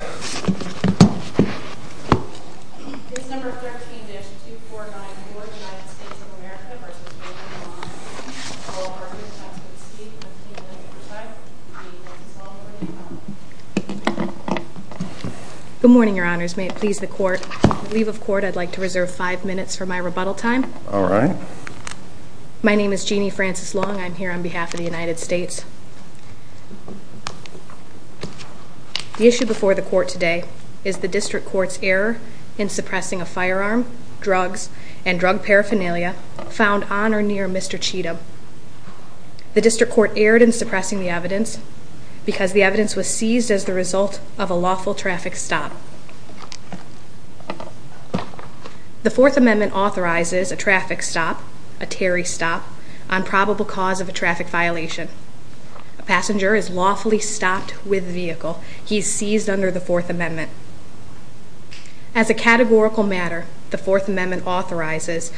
This number 13-2494, United States of America v. Raymond Lamont Cheatham, all parties must proceed to the table at your side. We will celebrate the... Good morning, your honors. May it please the court. On leave of court, I'd like to reserve five minutes for my rebuttal time. All right. My name is Jeanne Francis Long. I'm here on behalf of the United States. The issue before the court today is the district court's error in suppressing a firearm, drugs, and drug paraphernalia found on or near Mr. Cheatham. The district court erred in suppressing the evidence because the evidence was seized as the result of a lawful traffic stop. The Fourth Amendment authorizes a traffic stop, a Terry stop, on probable cause of a traffic violation. A passenger is lawfully stopped with the vehicle. He is seized under the Fourth Amendment. As a categorical matter, the Fourth Amendment authorizes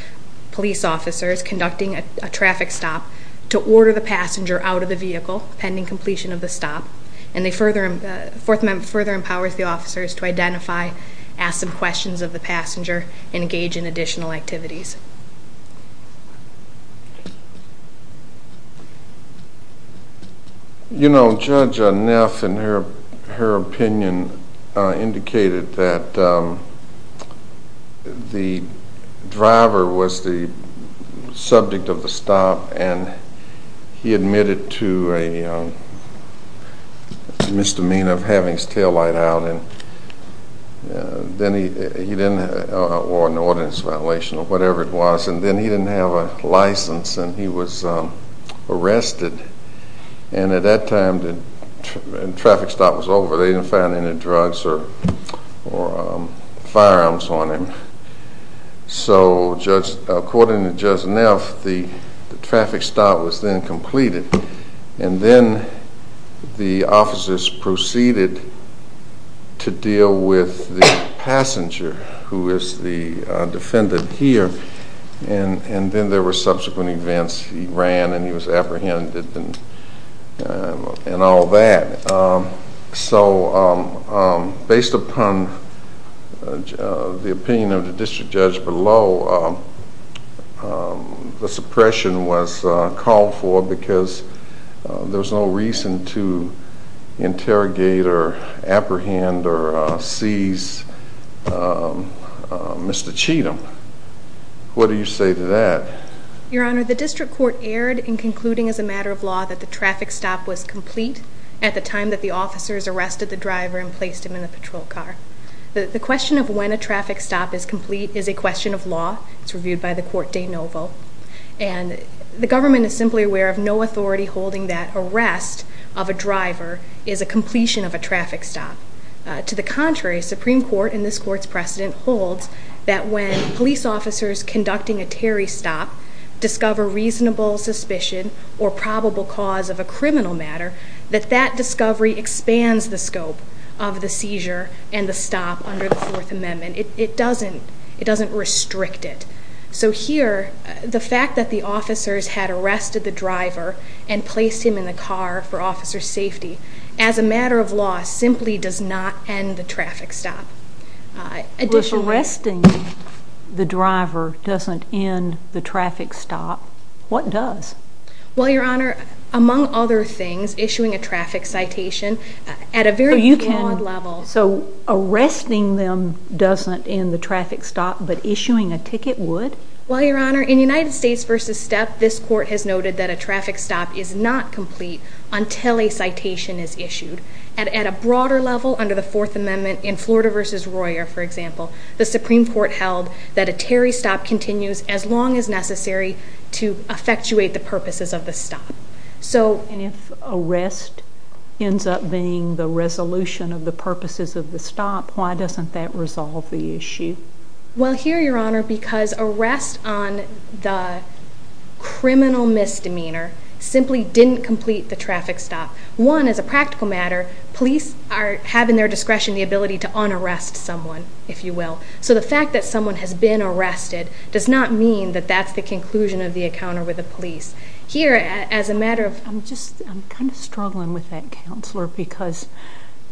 police officers conducting a traffic stop to order the passenger out of the vehicle pending completion of the stop. And the Fourth Amendment further empowers the officers to identify, ask some questions of the passenger, and engage in additional activities. You know, Judge Neff, in her opinion, indicated that the driver was the subject of the stop, and he admitted to a misdemeanor of having his taillight out, or an ordinance violation, or whatever it was, and then he didn't have a license, and he was arrested. And at that time, the traffic stop was over. They didn't find any drugs or firearms on him. So, according to Judge Neff, the traffic stop was then completed, and then the officers proceeded to deal with the passenger, who is the defendant here, and then there were subsequent events. He ran, and he was apprehended, and all that. So, based upon the opinion of the district judge below, the suppression was called for because there's no reason to interrogate or apprehend or seize Mr. Cheatham. What do you say to that? Your Honor, the district court erred in concluding as a matter of law that the traffic stop was complete at the time that the officers arrested the driver and placed him in the patrol car. The question of when a traffic stop is complete is a question of law. It's reviewed by the court de novo, and the government is simply aware of no authority holding that arrest of a driver is a completion of a traffic stop. To the contrary, Supreme Court, in this court's precedent, holds that when police officers conducting a Terry stop discover reasonable suspicion or probable cause of a criminal matter, that that discovery expands the scope of the seizure and the stop under the Fourth Amendment. It doesn't restrict it. So here, the fact that the officers had arrested the driver and placed him in the car for officer safety, as a matter of law, simply does not end the traffic stop. If arresting the driver doesn't end the traffic stop, what does? Well, Your Honor, among other things, issuing a traffic citation at a very broad level... So arresting them doesn't end the traffic stop, but issuing a ticket would? Well, Your Honor, in United States v. Step, this court has noted that a traffic stop is not complete until a citation is issued. At a broader level, under the Fourth Amendment, in Florida v. Royer, for example, the Supreme Court held that a Terry stop continues as long as necessary to effectuate the purposes of the stop. And if arrest ends up being the resolution of the purposes of the stop, why doesn't that resolve the issue? Well, here, Your Honor, because arrest on the criminal misdemeanor simply didn't complete the traffic stop. One, as a practical matter, police are having their discretion, the ability to un-arrest someone, if you will. So the fact that someone has been arrested does not mean that that's the conclusion of the encounter with the police. Here, as a matter of... I'm kind of struggling with that, Counselor, because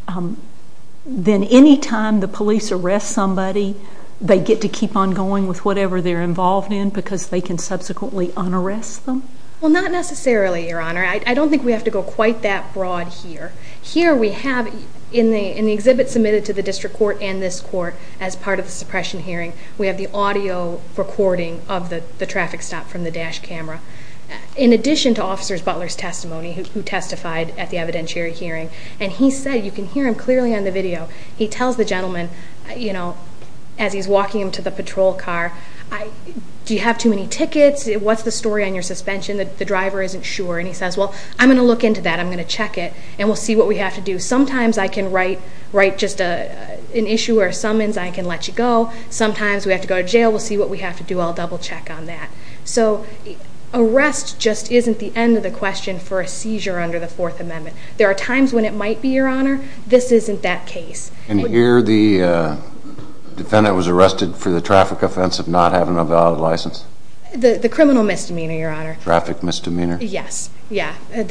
then any time the police arrest somebody, they get to keep on going with whatever they're involved in because they can subsequently un-arrest them? Well, not necessarily, Your Honor. I don't think we have to go quite that broad here. Here we have, in the exhibit submitted to the District Court and this Court as part of the suppression hearing, we have the audio recording of the traffic stop from the dash camera. In addition to Officers Butler's testimony, who testified at the evidentiary hearing, and he said, you can hear him clearly on the video, he tells the gentleman as he's walking him to the patrol car, do you have too many tickets, what's the story on your suspension, the driver isn't sure, and he says, well, I'm going to look into that, I'm going to check it, and we'll see what we have to do. Sometimes I can write just an issue or a summons, I can let you go. Sometimes we have to go to jail, we'll see what we have to do, I'll double-check on that. So arrest just isn't the end of the question for a seizure under the Fourth Amendment. There are times when it might be, Your Honor, this isn't that case. And here the defendant was arrested for the traffic offense of not having a valid license? The criminal misdemeanor, Your Honor. Traffic misdemeanor? Yes. And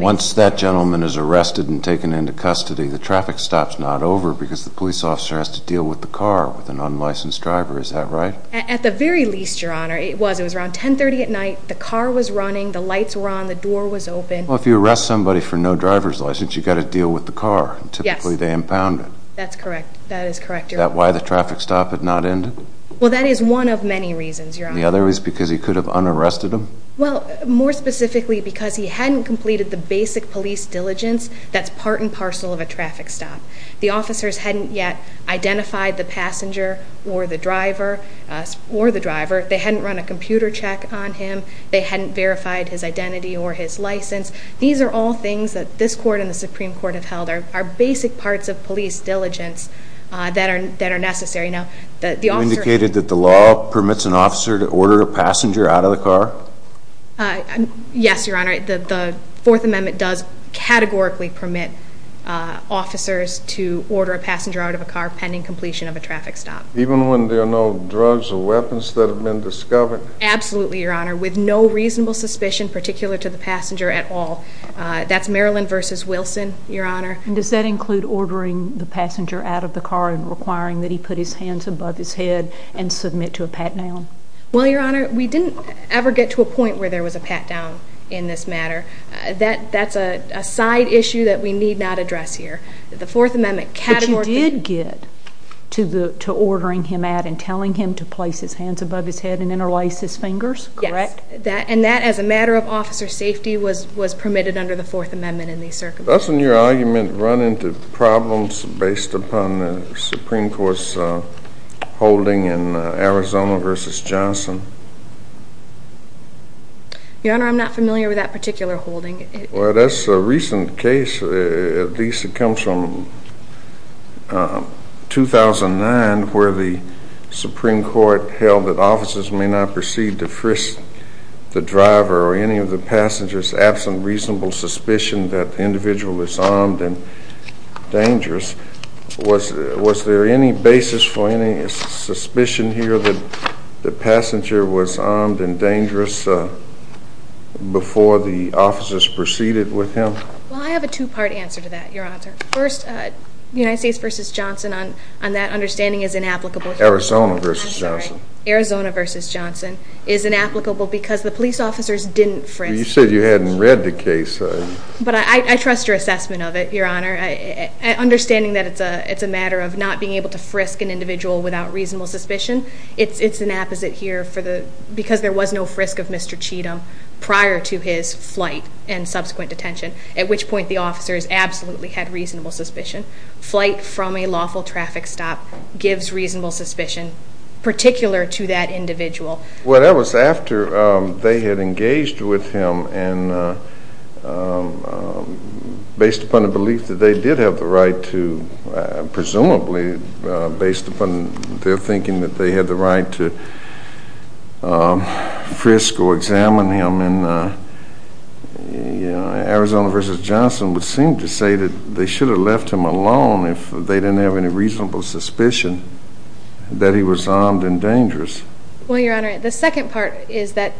once that gentleman is arrested and taken into custody, the traffic stop's not over because the police officer has to deal with the car with an unlicensed driver, is that right? At the very least, Your Honor, it was. It was around 10.30 at night, the car was running, the lights were on, the door was open. Well, if you arrest somebody for no driver's license, you've got to deal with the car. Typically they impound it. That's correct. That is correct, Your Honor. Is that why the traffic stop had not ended? Well, that is one of many reasons, Your Honor. The other is because he could have un-arrested him? Well, more specifically because he hadn't completed the basic police diligence that's part and parcel of a traffic stop. The officers hadn't yet identified the passenger or the driver. They hadn't run a computer check on him. They hadn't verified his identity or his license. These are all things that this court and the Supreme Court have held are basic parts of police diligence that are necessary. You indicated that the law permits an officer to order a passenger out of the car? Yes, Your Honor. The Fourth Amendment does categorically permit officers to order a passenger out of a car pending completion of a traffic stop. Even when there are no drugs or weapons that have been discovered? Absolutely, Your Honor. With no reasonable suspicion particular to the passenger at all. That's Maryland v. Wilson, Your Honor. Does that include ordering the passenger out of the car and requiring that he put his hands above his head and submit to a pat-down? Well, Your Honor, we didn't ever get to a point where there was a pat-down in this matter. That's a side issue that we need not address here. The Fourth Amendment categorically... But you did get to ordering him out and telling him to place his hands above his head and interlace his fingers, correct? And that, as a matter of officer safety, was permitted under the Fourth Amendment in these circumstances. Doesn't your argument run into problems based upon the Supreme Court's holding in Arizona v. Johnson? Your Honor, I'm not familiar with that particular holding. Well, that's a recent case. At least it comes from 2009 where the Supreme Court held that officers may not proceed to frisk the driver or any of the passengers absent reasonable suspicion that the individual is armed and dangerous. Was there any basis for any suspicion here that the passenger was armed and dangerous before the officers proceeded with him? Well, I have a two-part answer to that, Your Honor. First, the United States v. Johnson on that understanding is inapplicable. Arizona v. Johnson. Arizona v. Johnson is inapplicable because the police officers didn't frisk. You said you hadn't read the case. But I trust your assessment of it, Your Honor. Understanding that it's a matter of not being able to frisk an individual without reasonable suspicion, it's an apposite here because there was no frisk of Mr. Cheatham prior to his flight and subsequent detention, at which point the officers absolutely had reasonable suspicion. Flight from a lawful traffic stop gives reasonable suspicion, particular to that individual. Well, that was after they had engaged with him and based upon the belief that they did have the right to, presumably based upon their thinking that they had the right to frisk or examine him, Arizona v. Johnson would seem to say that they should have left him alone if they didn't have any reasonable suspicion that he was armed and dangerous. Well, Your Honor, the second part is that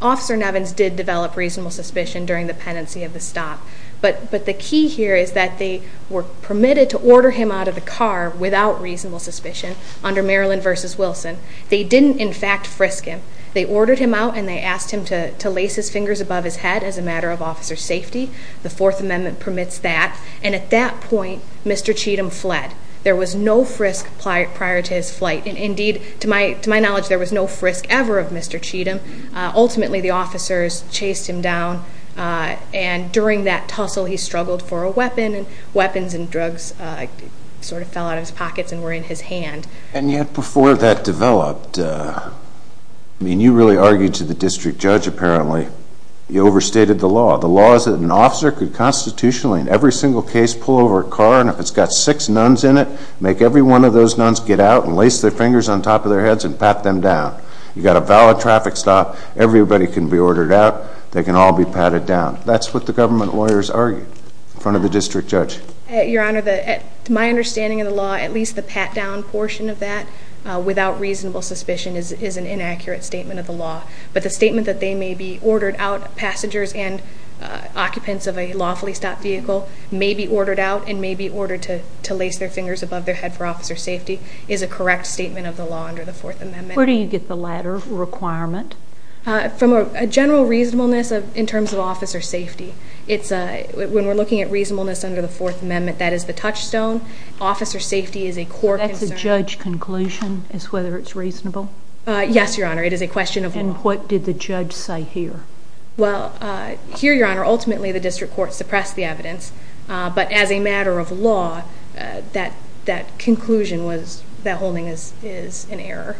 Officer Nevins did develop reasonable suspicion during the pendency of the stop. But the key here is that they were permitted to order him out of the car without reasonable suspicion under Maryland v. Wilson. They didn't, in fact, frisk him. They ordered him out and they asked him to lace his fingers above his head as a matter of officer's safety. The Fourth Amendment permits that. And at that point, Mr. Cheatham fled. There was no frisk prior to his flight. Indeed, to my knowledge, there was no frisk ever of Mr. Cheatham. Ultimately, the officers chased him down. And during that tussle, he struggled for a weapon, and weapons and drugs sort of fell out of his pockets and were in his hand. And yet before that developed, I mean, you really argued to the district judge, apparently. You overstated the law. The law is that an officer could constitutionally, in every single case, pull over a car, and if it's got six nuns in it, make every one of those nuns get out and lace their fingers on top of their heads and pat them down. You've got a valid traffic stop. Everybody can be ordered out. They can all be patted down. That's what the government lawyers argued in front of the district judge. Your Honor, my understanding of the law, at least the pat-down portion of that without reasonable suspicion, is an inaccurate statement of the law. But the statement that they may be ordered out, passengers and occupants of a lawfully stopped vehicle, may be ordered out and may be ordered to lace their fingers above their head for officer safety, is a correct statement of the law under the Fourth Amendment. Where do you get the latter requirement? From a general reasonableness in terms of officer safety. When we're looking at reasonableness under the Fourth Amendment, that is the touchstone. Officer safety is a core concern. So that's a judge conclusion as to whether it's reasonable? Yes, Your Honor. It is a question of law. And what did the judge say here? Well, here, Your Honor, ultimately the district court suppressed the evidence. But as a matter of law, that conclusion was that holding is an error.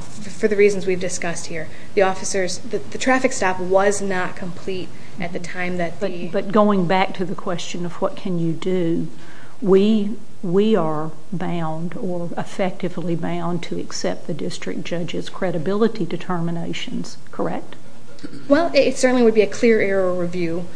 For the reasons we've discussed here, the traffic stop was not complete at the time that the... But going back to the question of what can you do, we are bound or effectively bound to accept the district judge's credibility determinations. Correct? Well, it certainly would be a clear error review.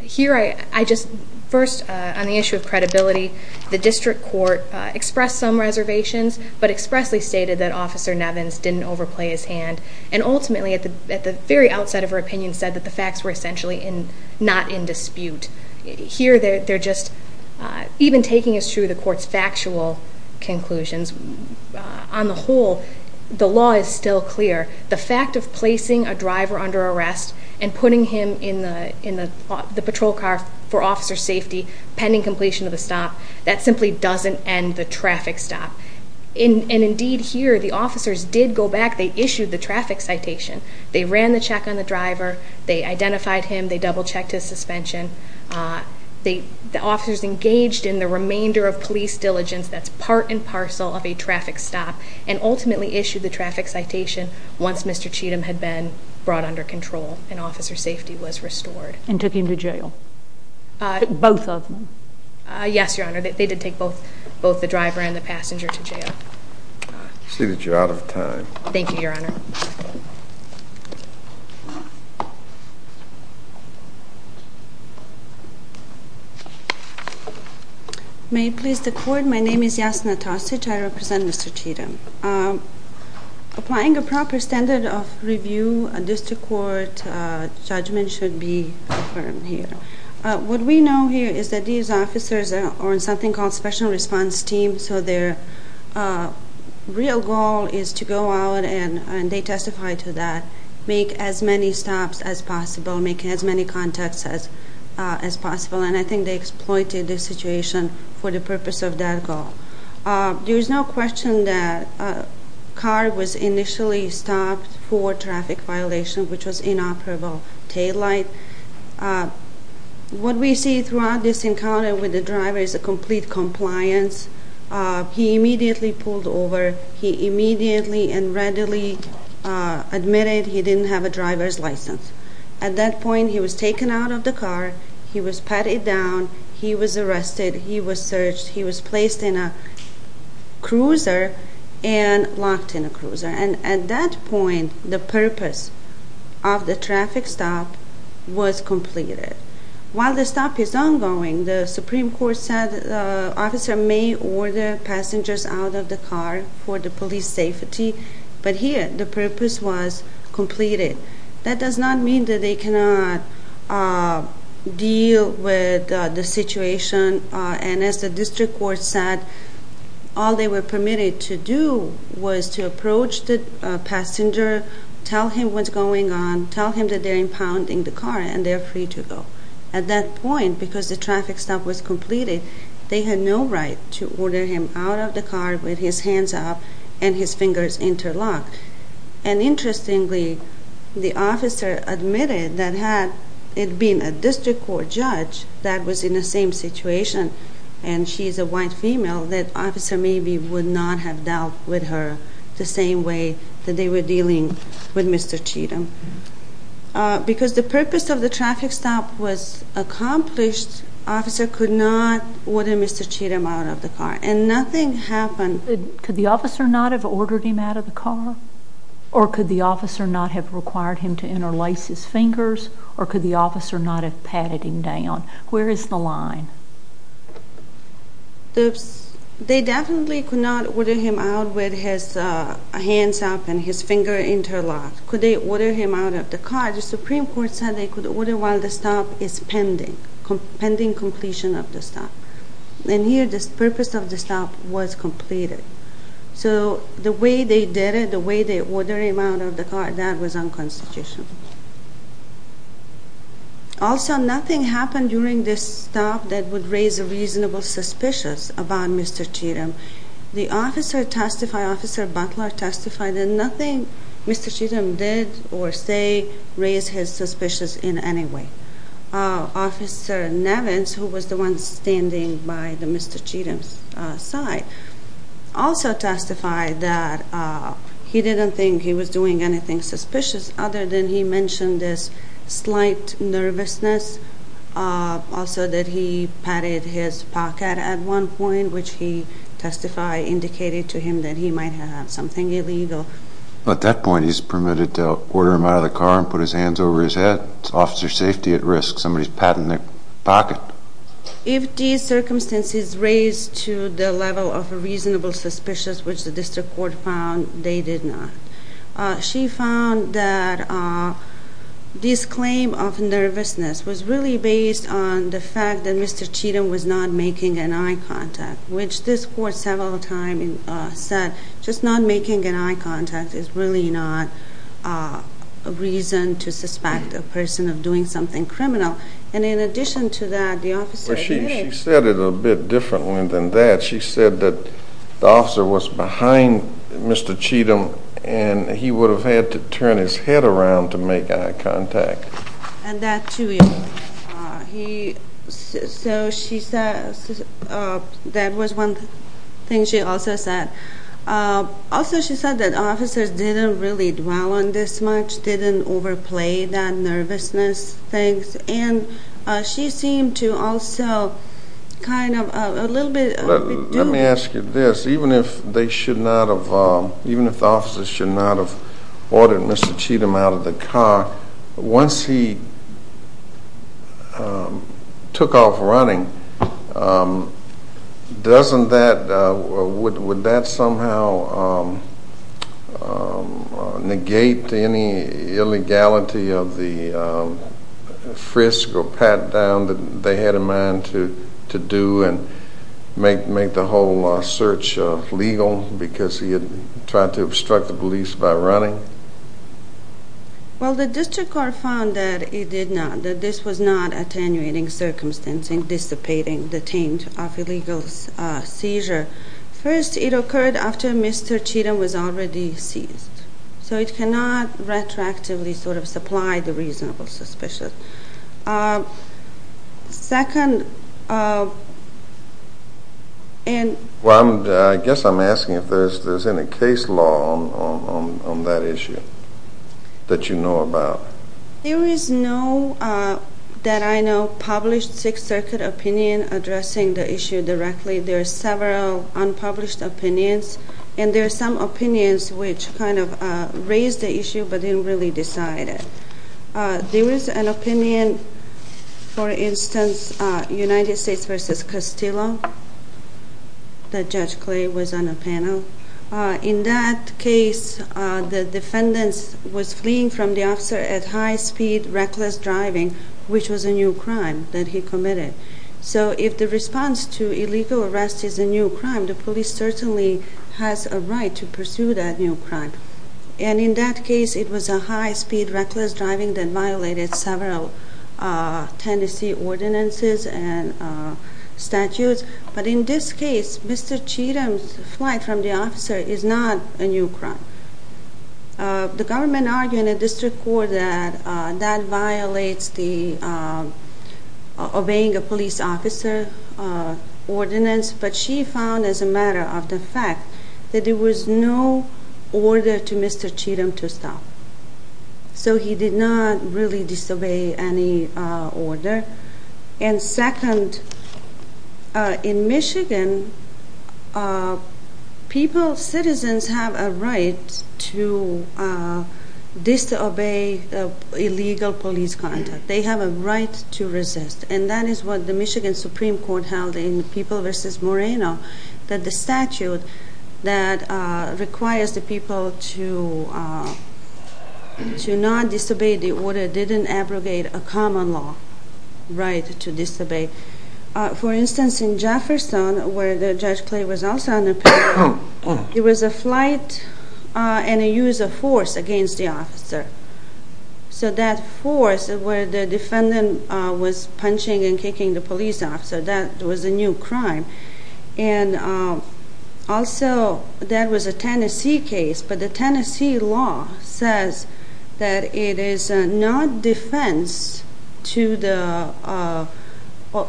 Here, I just first, on the issue of credibility, the district court expressed some reservations but expressly stated that Officer Nevins didn't overplay his hand. And ultimately, at the very outset of her opinion, said that the facts were essentially not in dispute. Here, they're just even taking as true the court's factual conclusions, on the whole, the law is still clear. The fact of placing a driver under arrest and putting him in the patrol car for officer safety pending completion of the stop, that simply doesn't end the traffic stop. And indeed, here, the officers did go back. They issued the traffic citation. They ran the check on the driver. They identified him. They double-checked his suspension. The officers engaged in the remainder of police diligence. That's part and parcel of a traffic stop, and ultimately issued the traffic citation once Mr. Cheatham had been brought under control and officer safety was restored. And took him to jail? Both of them? Yes, Your Honor. They did take both the driver and the passenger to jail. I see that you're out of time. Thank you, Your Honor. Thank you. May it please the Court, my name is Jasna Tosic. I represent Mr. Cheatham. Applying a proper standard of review, a district court judgment should be affirmed here. What we know here is that these officers are on something called special response team, so their real goal is to go out, and they testify to that, make as many stops as possible, make as many contacts as possible. And I think they exploited the situation for the purpose of that goal. There is no question that car was initially stopped for traffic violation, which was inoperable taillight. What we see throughout this encounter with the driver is a complete compliance. He immediately pulled over. He immediately and readily admitted he didn't have a driver's license. At that point, he was taken out of the car. He was patted down. He was arrested. He was searched. He was placed in a cruiser and locked in a cruiser. And at that point, the purpose of the traffic stop was completed. While the stop is ongoing, the Supreme Court said the officer may order passengers out of the car for the police safety. But here, the purpose was completed. That does not mean that they cannot deal with the situation. And as the district court said, all they were permitted to do was to approach the passenger, tell him what's going on, tell him that they're impounding the car, and they're free to go. At that point, because the traffic stop was completed, they had no right to order him out of the car with his hands up and his fingers interlocked. And interestingly, the officer admitted that had it been a district court judge that was in the same situation, and she's a white female, that officer maybe would not have dealt with her the same way that they were dealing with Mr. Cheatham. Because the purpose of the traffic stop was accomplished, officer could not order Mr. Cheatham out of the car. And nothing happened. Could the officer not have ordered him out of the car? Or could the officer not have required him to interlace his fingers? Or could the officer not have patted him down? Where is the line? They definitely could not order him out with his hands up and his fingers interlocked. Could they order him out of the car? The Supreme Court said they could order while the stop is pending, pending completion of the stop. And here, the purpose of the stop was completed. So the way they did it, the way they ordered him out of the car, that was unconstitutional. Also, nothing happened during this stop that would raise a reasonable suspicious about Mr. Cheatham. The officer testified, Officer Butler testified, and nothing Mr. Cheatham did or say raised his suspicious in any way. Officer Nevins, who was the one standing by Mr. Cheatham's side, also testified that he didn't think he was doing anything suspicious other than he mentioned this slight nervousness, also that he patted his pocket at one point, which he testified indicated to him that he might have had something illegal. At that point, he's permitted to order him out of the car and put his hands over his head. It's officer safety at risk. Somebody's patting their pocket. If these circumstances raised to the level of a reasonable suspicious, which the district court found, they did not. She found that this claim of nervousness was really based on the fact that Mr. Cheatham was not making an eye contact, which this court several times said just not making an eye contact is really not a reason to suspect a person of doing something criminal. In addition to that, the officer- She said it a bit differently than that. She said that the officer was behind Mr. Cheatham and he would have had to turn his head around to make eye contact. And that, too, he- So she said that was one thing she also said. Also, she said that officers didn't really dwell on this much, didn't overplay that nervousness thing, and she seemed to also kind of a little bit- Let me ask you this. Even if they should not have- Even if the officers should not have ordered Mr. Cheatham out of the car, once he took off running, doesn't that-would that somehow negate any illegality of the frisk or pat-down that they had in mind to do and make the whole search legal because he had tried to obstruct the police by running? Well, the district court found that it did not. That this was not attenuating circumstance in dissipating the taint of illegal seizure. First, it occurred after Mr. Cheatham was already seized. So it cannot retroactively sort of supply the reasonable suspicion. Second- Well, I guess I'm asking if there's any case law on that issue that you know about. There is no, that I know, published Sixth Circuit opinion addressing the issue directly. There are several unpublished opinions, and there are some opinions which kind of raised the issue but didn't really decide it. There is an opinion, for instance, United States v. Castillo, that Judge Clay was on a panel. In that case, the defendant was fleeing from the officer at high speed, reckless driving, which was a new crime that he committed. So if the response to illegal arrest is a new crime, the police certainly has a right to pursue that new crime. And in that case, it was a high-speed reckless driving that violated several tenancy ordinances and statutes. But in this case, Mr. Cheatham's flight from the officer is not a new crime. The government argued in the district court that that violates the obeying a police officer ordinance. But she found, as a matter of the fact, that there was no order to Mr. Cheatham to stop. So he did not really disobey any order. And second, in Michigan, people, citizens have a right to disobey illegal police contact. They have a right to resist. And that is what the Michigan Supreme Court held in People v. Moreno, that the statute that requires the people to not disobey the order didn't abrogate a common law right to disobey. For instance, in Jefferson, where Judge Clay was also on the panel, there was a flight and a use of force against the officer. So that force, where the defendant was punching and kicking the police officer, that was a new crime. And also, there was a tenancy case, but the tenancy law says that it is not defense to the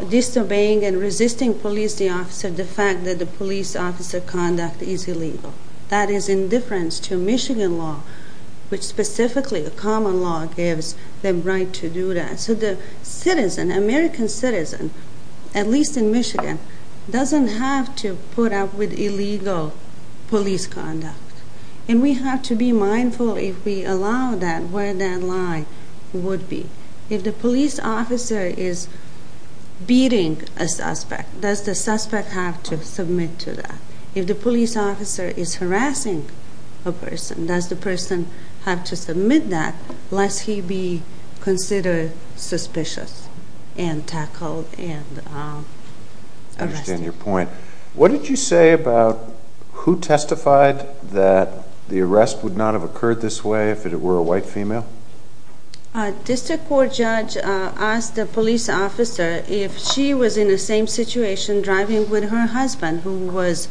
disobeying and resisting police officer the fact that the police officer conduct is illegal. That is indifference to Michigan law, which specifically the common law gives the right to do that. So the citizen, American citizen, at least in Michigan, doesn't have to put up with illegal police conduct. And we have to be mindful, if we allow that, where that line would be. If the police officer is beating a suspect, does the suspect have to submit to that? If the police officer is harassing a person, does the person have to submit that, lest he be considered suspicious and tackled and arrested? I understand your point. What did you say about who testified that the arrest would not have occurred this way if it were a white female? A district court judge asked the police officer if she was in the same situation driving with her husband, who was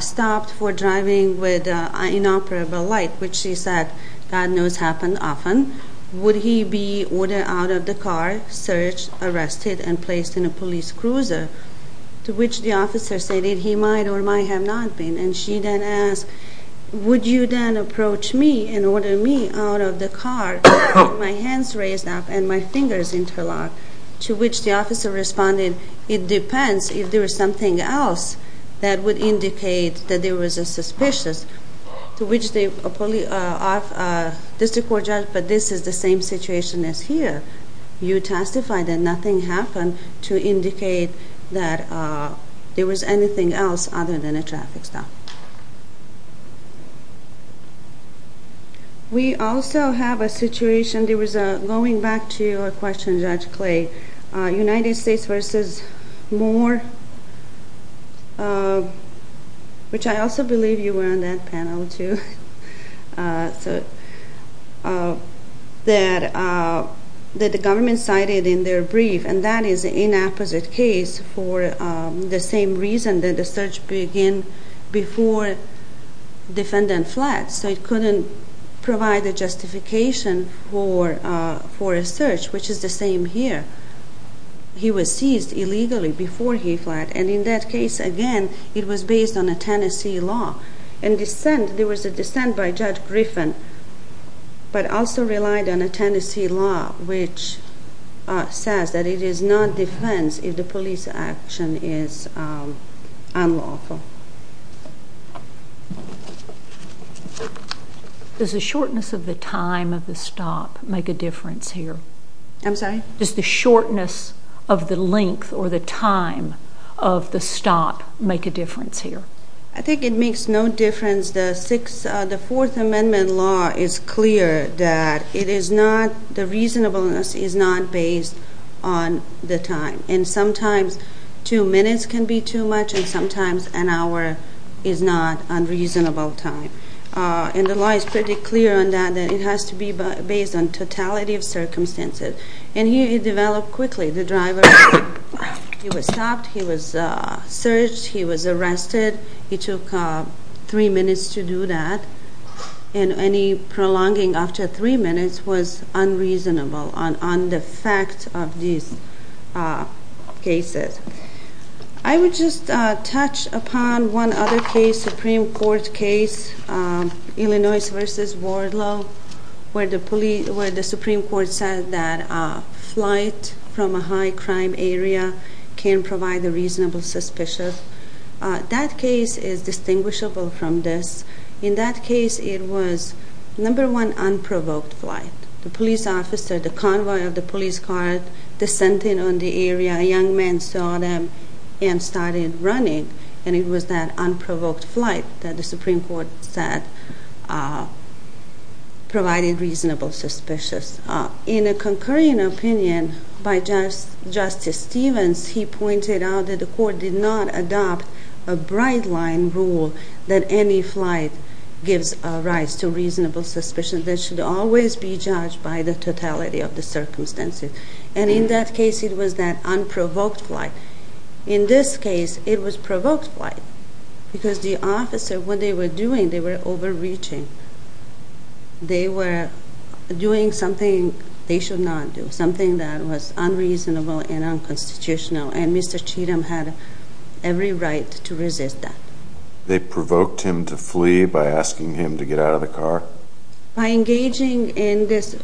stopped for driving with inoperable light, which she said God knows happened often, would he be ordered out of the car, searched, arrested, and placed in a police cruiser, to which the officer stated he might or might have not been. And she then asked, would you then approach me and order me out of the car, with my hands raised up and my fingers interlocked, to which the officer responded, it depends if there was something else that would indicate that there was a suspicious, to which the district court judge, but this is the same situation as here. You testified that nothing happened to indicate that there was anything else other than a traffic stop. We also have a situation, there was a, going back to your question, Judge Clay, United States versus Moore, which I also believe you were on that panel too, that the government cited in their brief, and that is an inapposite case, for the same reason that the search began before defendant fled, so it couldn't provide a justification for a search, which is the same here. He was seized illegally before he fled, and in that case, again, it was based on a Tennessee law. In dissent, there was a dissent by Judge Griffin, but also relied on a Tennessee law, which says that it is not defense if the police action is unlawful. Does the shortness of the time of the stop make a difference here? I'm sorry? Does the shortness of the length or the time of the stop make a difference here? I think it makes no difference. The Fourth Amendment law is clear that it is not, the reasonableness is not based on the time. And sometimes two minutes can be too much, and sometimes an hour is not unreasonable time. And the law is pretty clear on that, that it has to be based on totality of circumstances. And here it developed quickly. The driver, he was stopped, he was searched, he was arrested. It took three minutes to do that. And any prolonging after three minutes was unreasonable on the fact of these cases. I would just touch upon one other case, Supreme Court case, Illinois v. Wardlow, where the Supreme Court said that flight from a high crime area can provide a reasonable suspicion. That case is distinguishable from this. In that case, it was, number one, unprovoked flight. The police officer, the convoy of the police car, dissented on the area. A young man saw them and started running. And it was that unprovoked flight that the Supreme Court said provided reasonable suspicion. In a concurring opinion by Justice Stevens, he pointed out that the court did not adopt a bright-line rule that any flight gives rise to reasonable suspicion that should always be judged by the totality of the circumstances. And in that case, it was that unprovoked flight. In this case, it was provoked flight because the officer, what they were doing, they were overreaching. They were doing something they should not do, something that was unreasonable and unconstitutional. And Mr. Cheatham had every right to resist that. They provoked him to flee by asking him to get out of the car? By engaging in this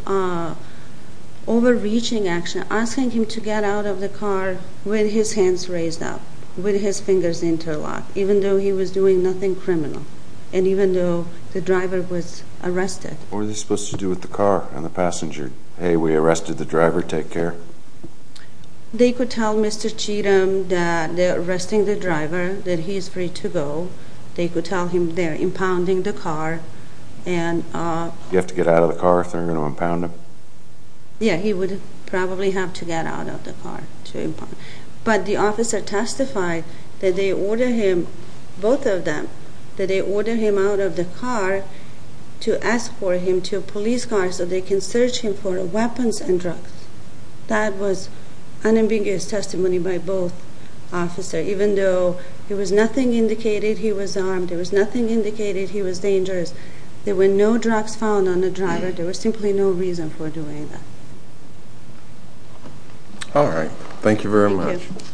overreaching action, asking him to get out of the car with his hands raised up, with his fingers interlocked, even though he was doing nothing criminal, and even though the driver was arrested. What were they supposed to do with the car and the passenger? Hey, we arrested the driver, take care? They could tell Mr. Cheatham that they're arresting the driver, that he is free to go. They could tell him they're impounding the car. You have to get out of the car if they're going to impound him? Yeah, he would probably have to get out of the car to impound him. But the officer testified that they ordered him, both of them, that they ordered him out of the car to escort him to a police car so they can search him for weapons and drugs. That was unambiguous testimony by both officers. Even though there was nothing indicating he was armed, there was nothing indicating he was dangerous, there were no drugs found on the driver. There was simply no reason for doing that. All right. Thank you very much. Thank you.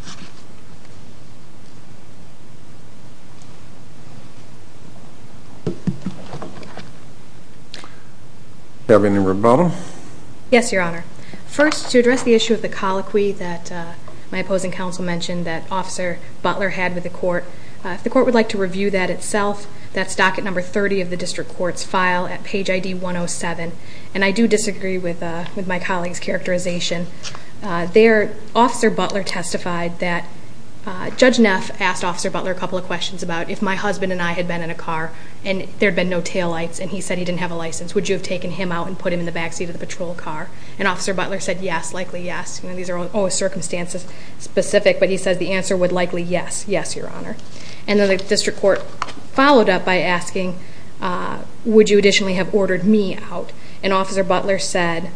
Do you have any rebuttal? Yes, Your Honor. First, to address the issue of the colloquy that my opposing counsel mentioned that Officer Butler had with the court, if the court would like to review that itself, that's docket number 30 of the district court's file at page ID 107. And I do disagree with my colleague's characterization. Officer Butler testified that Judge Neff asked Officer Butler a couple of questions about if my husband and I had been in a car and there had been no taillights and he said he didn't have a license, would you have taken him out and put him in the backseat of the patrol car? And Officer Butler said, yes, likely yes. These are all circumstances specific, but he said the answer would likely yes. Yes, Your Honor. And then the district court followed up by asking, would you additionally have ordered me out? And Officer Butler said,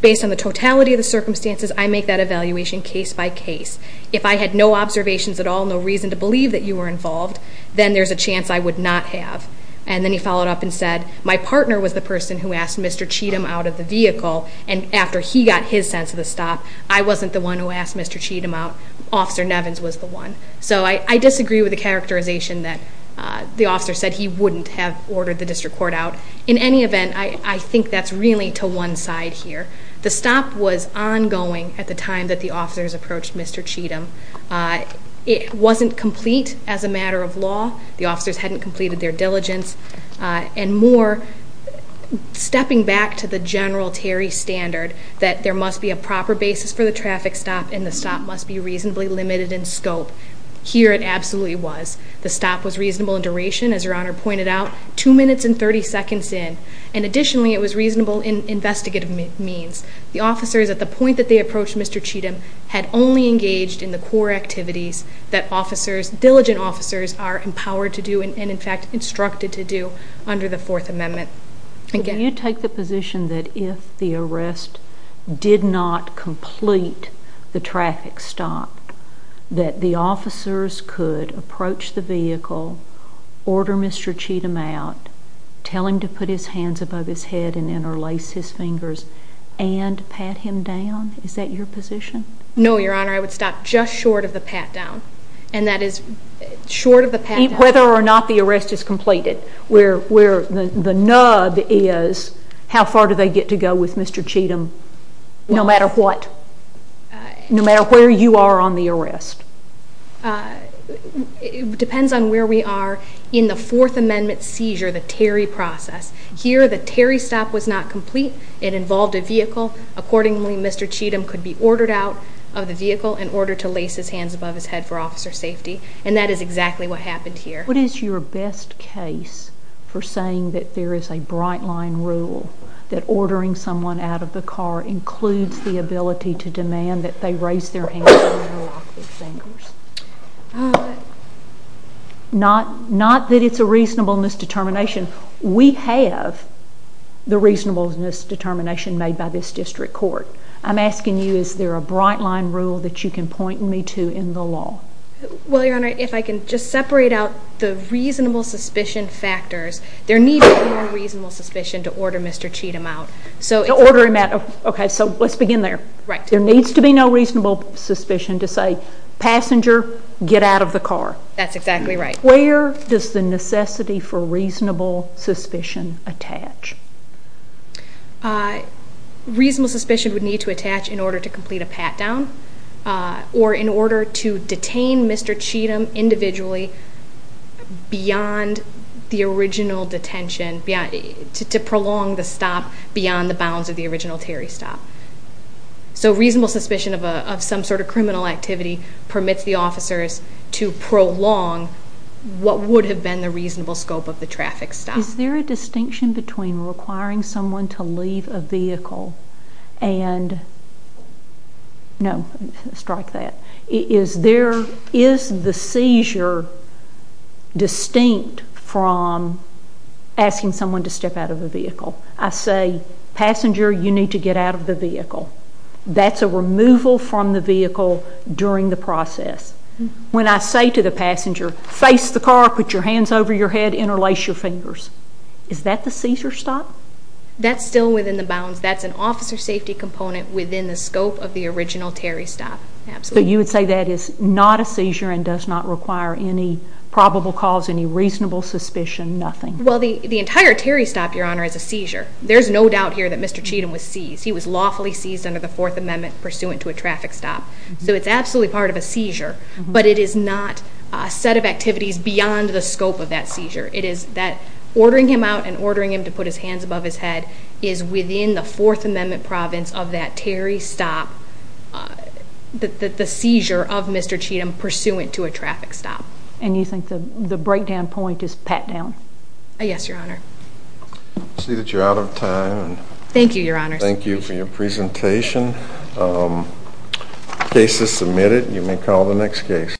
based on the totality of the circumstances, I make that evaluation case by case. If I had no observations at all, no reason to believe that you were involved, then there's a chance I would not have. And then he followed up and said, my partner was the person who asked Mr. Cheatham out of the vehicle, and after he got his sense of the stop, I wasn't the one who asked Mr. Cheatham out, Officer Nevins was the one. So I disagree with the characterization that the officer said he wouldn't have ordered the district court out. In any event, I think that's really to one side here. The stop was ongoing at the time that the officers approached Mr. Cheatham. It wasn't complete as a matter of law. The officers hadn't completed their diligence. And more, stepping back to the general Terry standard that there must be a proper basis for the traffic stop and the stop must be reasonably limited in scope. Here it absolutely was. The stop was reasonable in duration, as Your Honor pointed out, two minutes and 30 seconds in. And additionally, it was reasonable in investigative means. The officers, at the point that they approached Mr. Cheatham, had only engaged in the core activities that officers, diligent officers, are empowered to do and, in fact, instructed to do under the Fourth Amendment. Can you take the position that if the arrest did not complete the traffic stop, that the officers could approach the vehicle, order Mr. Cheatham out, tell him to put his hands above his head and interlace his fingers and pat him down? Is that your position? No, Your Honor. I would stop just short of the pat down. And that is short of the pat down. Whether or not the arrest is completed, where the nub is, how far do they get to go with Mr. Cheatham, no matter what? No matter where you are on the arrest? It depends on where we are in the Fourth Amendment seizure, the Terry process. Here, the Terry stop was not complete. It involved a vehicle. Accordingly, Mr. Cheatham could be ordered out of the vehicle and ordered to lace his hands above his head for officer safety, and that is exactly what happened here. What is your best case for saying that there is a bright-line rule that ordering someone out of the car includes the ability to demand that they raise their hands and interlock their fingers? Not that it's a reasonableness determination. We have the reasonableness determination made by this district court. I'm asking you, is there a bright-line rule that you can point me to in the law? Well, Your Honor, if I can just separate out the reasonable suspicion factors, there needs to be no reasonable suspicion to order Mr. Cheatham out. To order him out. Okay, so let's begin there. There needs to be no reasonable suspicion to say, passenger, get out of the car. That's exactly right. Where does the necessity for reasonable suspicion attach? Reasonable suspicion would need to attach in order to complete a pat-down or in order to detain Mr. Cheatham individually beyond the original detention, to prolong the stop beyond the bounds of the original Terry stop. So reasonable suspicion of some sort of criminal activity permits the officers to prolong what would have been the reasonable scope of the traffic stop. Is there a distinction between requiring someone to leave a vehicle and, no, strike that. Is the seizure distinct from asking someone to step out of the vehicle? I say, passenger, you need to get out of the vehicle. That's a removal from the vehicle during the process. When I say to the passenger, face the car, put your hands over your head, interlace your fingers, is that the seizure stop? That's still within the bounds. That's an officer safety component within the scope of the original Terry stop. Absolutely. So you would say that is not a seizure and does not require any probable cause, any reasonable suspicion, nothing? Well, the entire Terry stop, Your Honor, is a seizure. There's no doubt here that Mr. Cheatham was seized. He was lawfully seized under the Fourth Amendment pursuant to a traffic stop. So it's absolutely part of a seizure. But it is not a set of activities beyond the scope of that seizure. It is that ordering him out and ordering him to put his hands above his head is within the Fourth Amendment province of that Terry stop, the seizure of Mr. Cheatham pursuant to a traffic stop. And you think the breakdown point is pat down? Yes, Your Honor. I see that you're out of time. Thank you, Your Honor. Thank you for your presentation. Case is submitted. You may call the next case.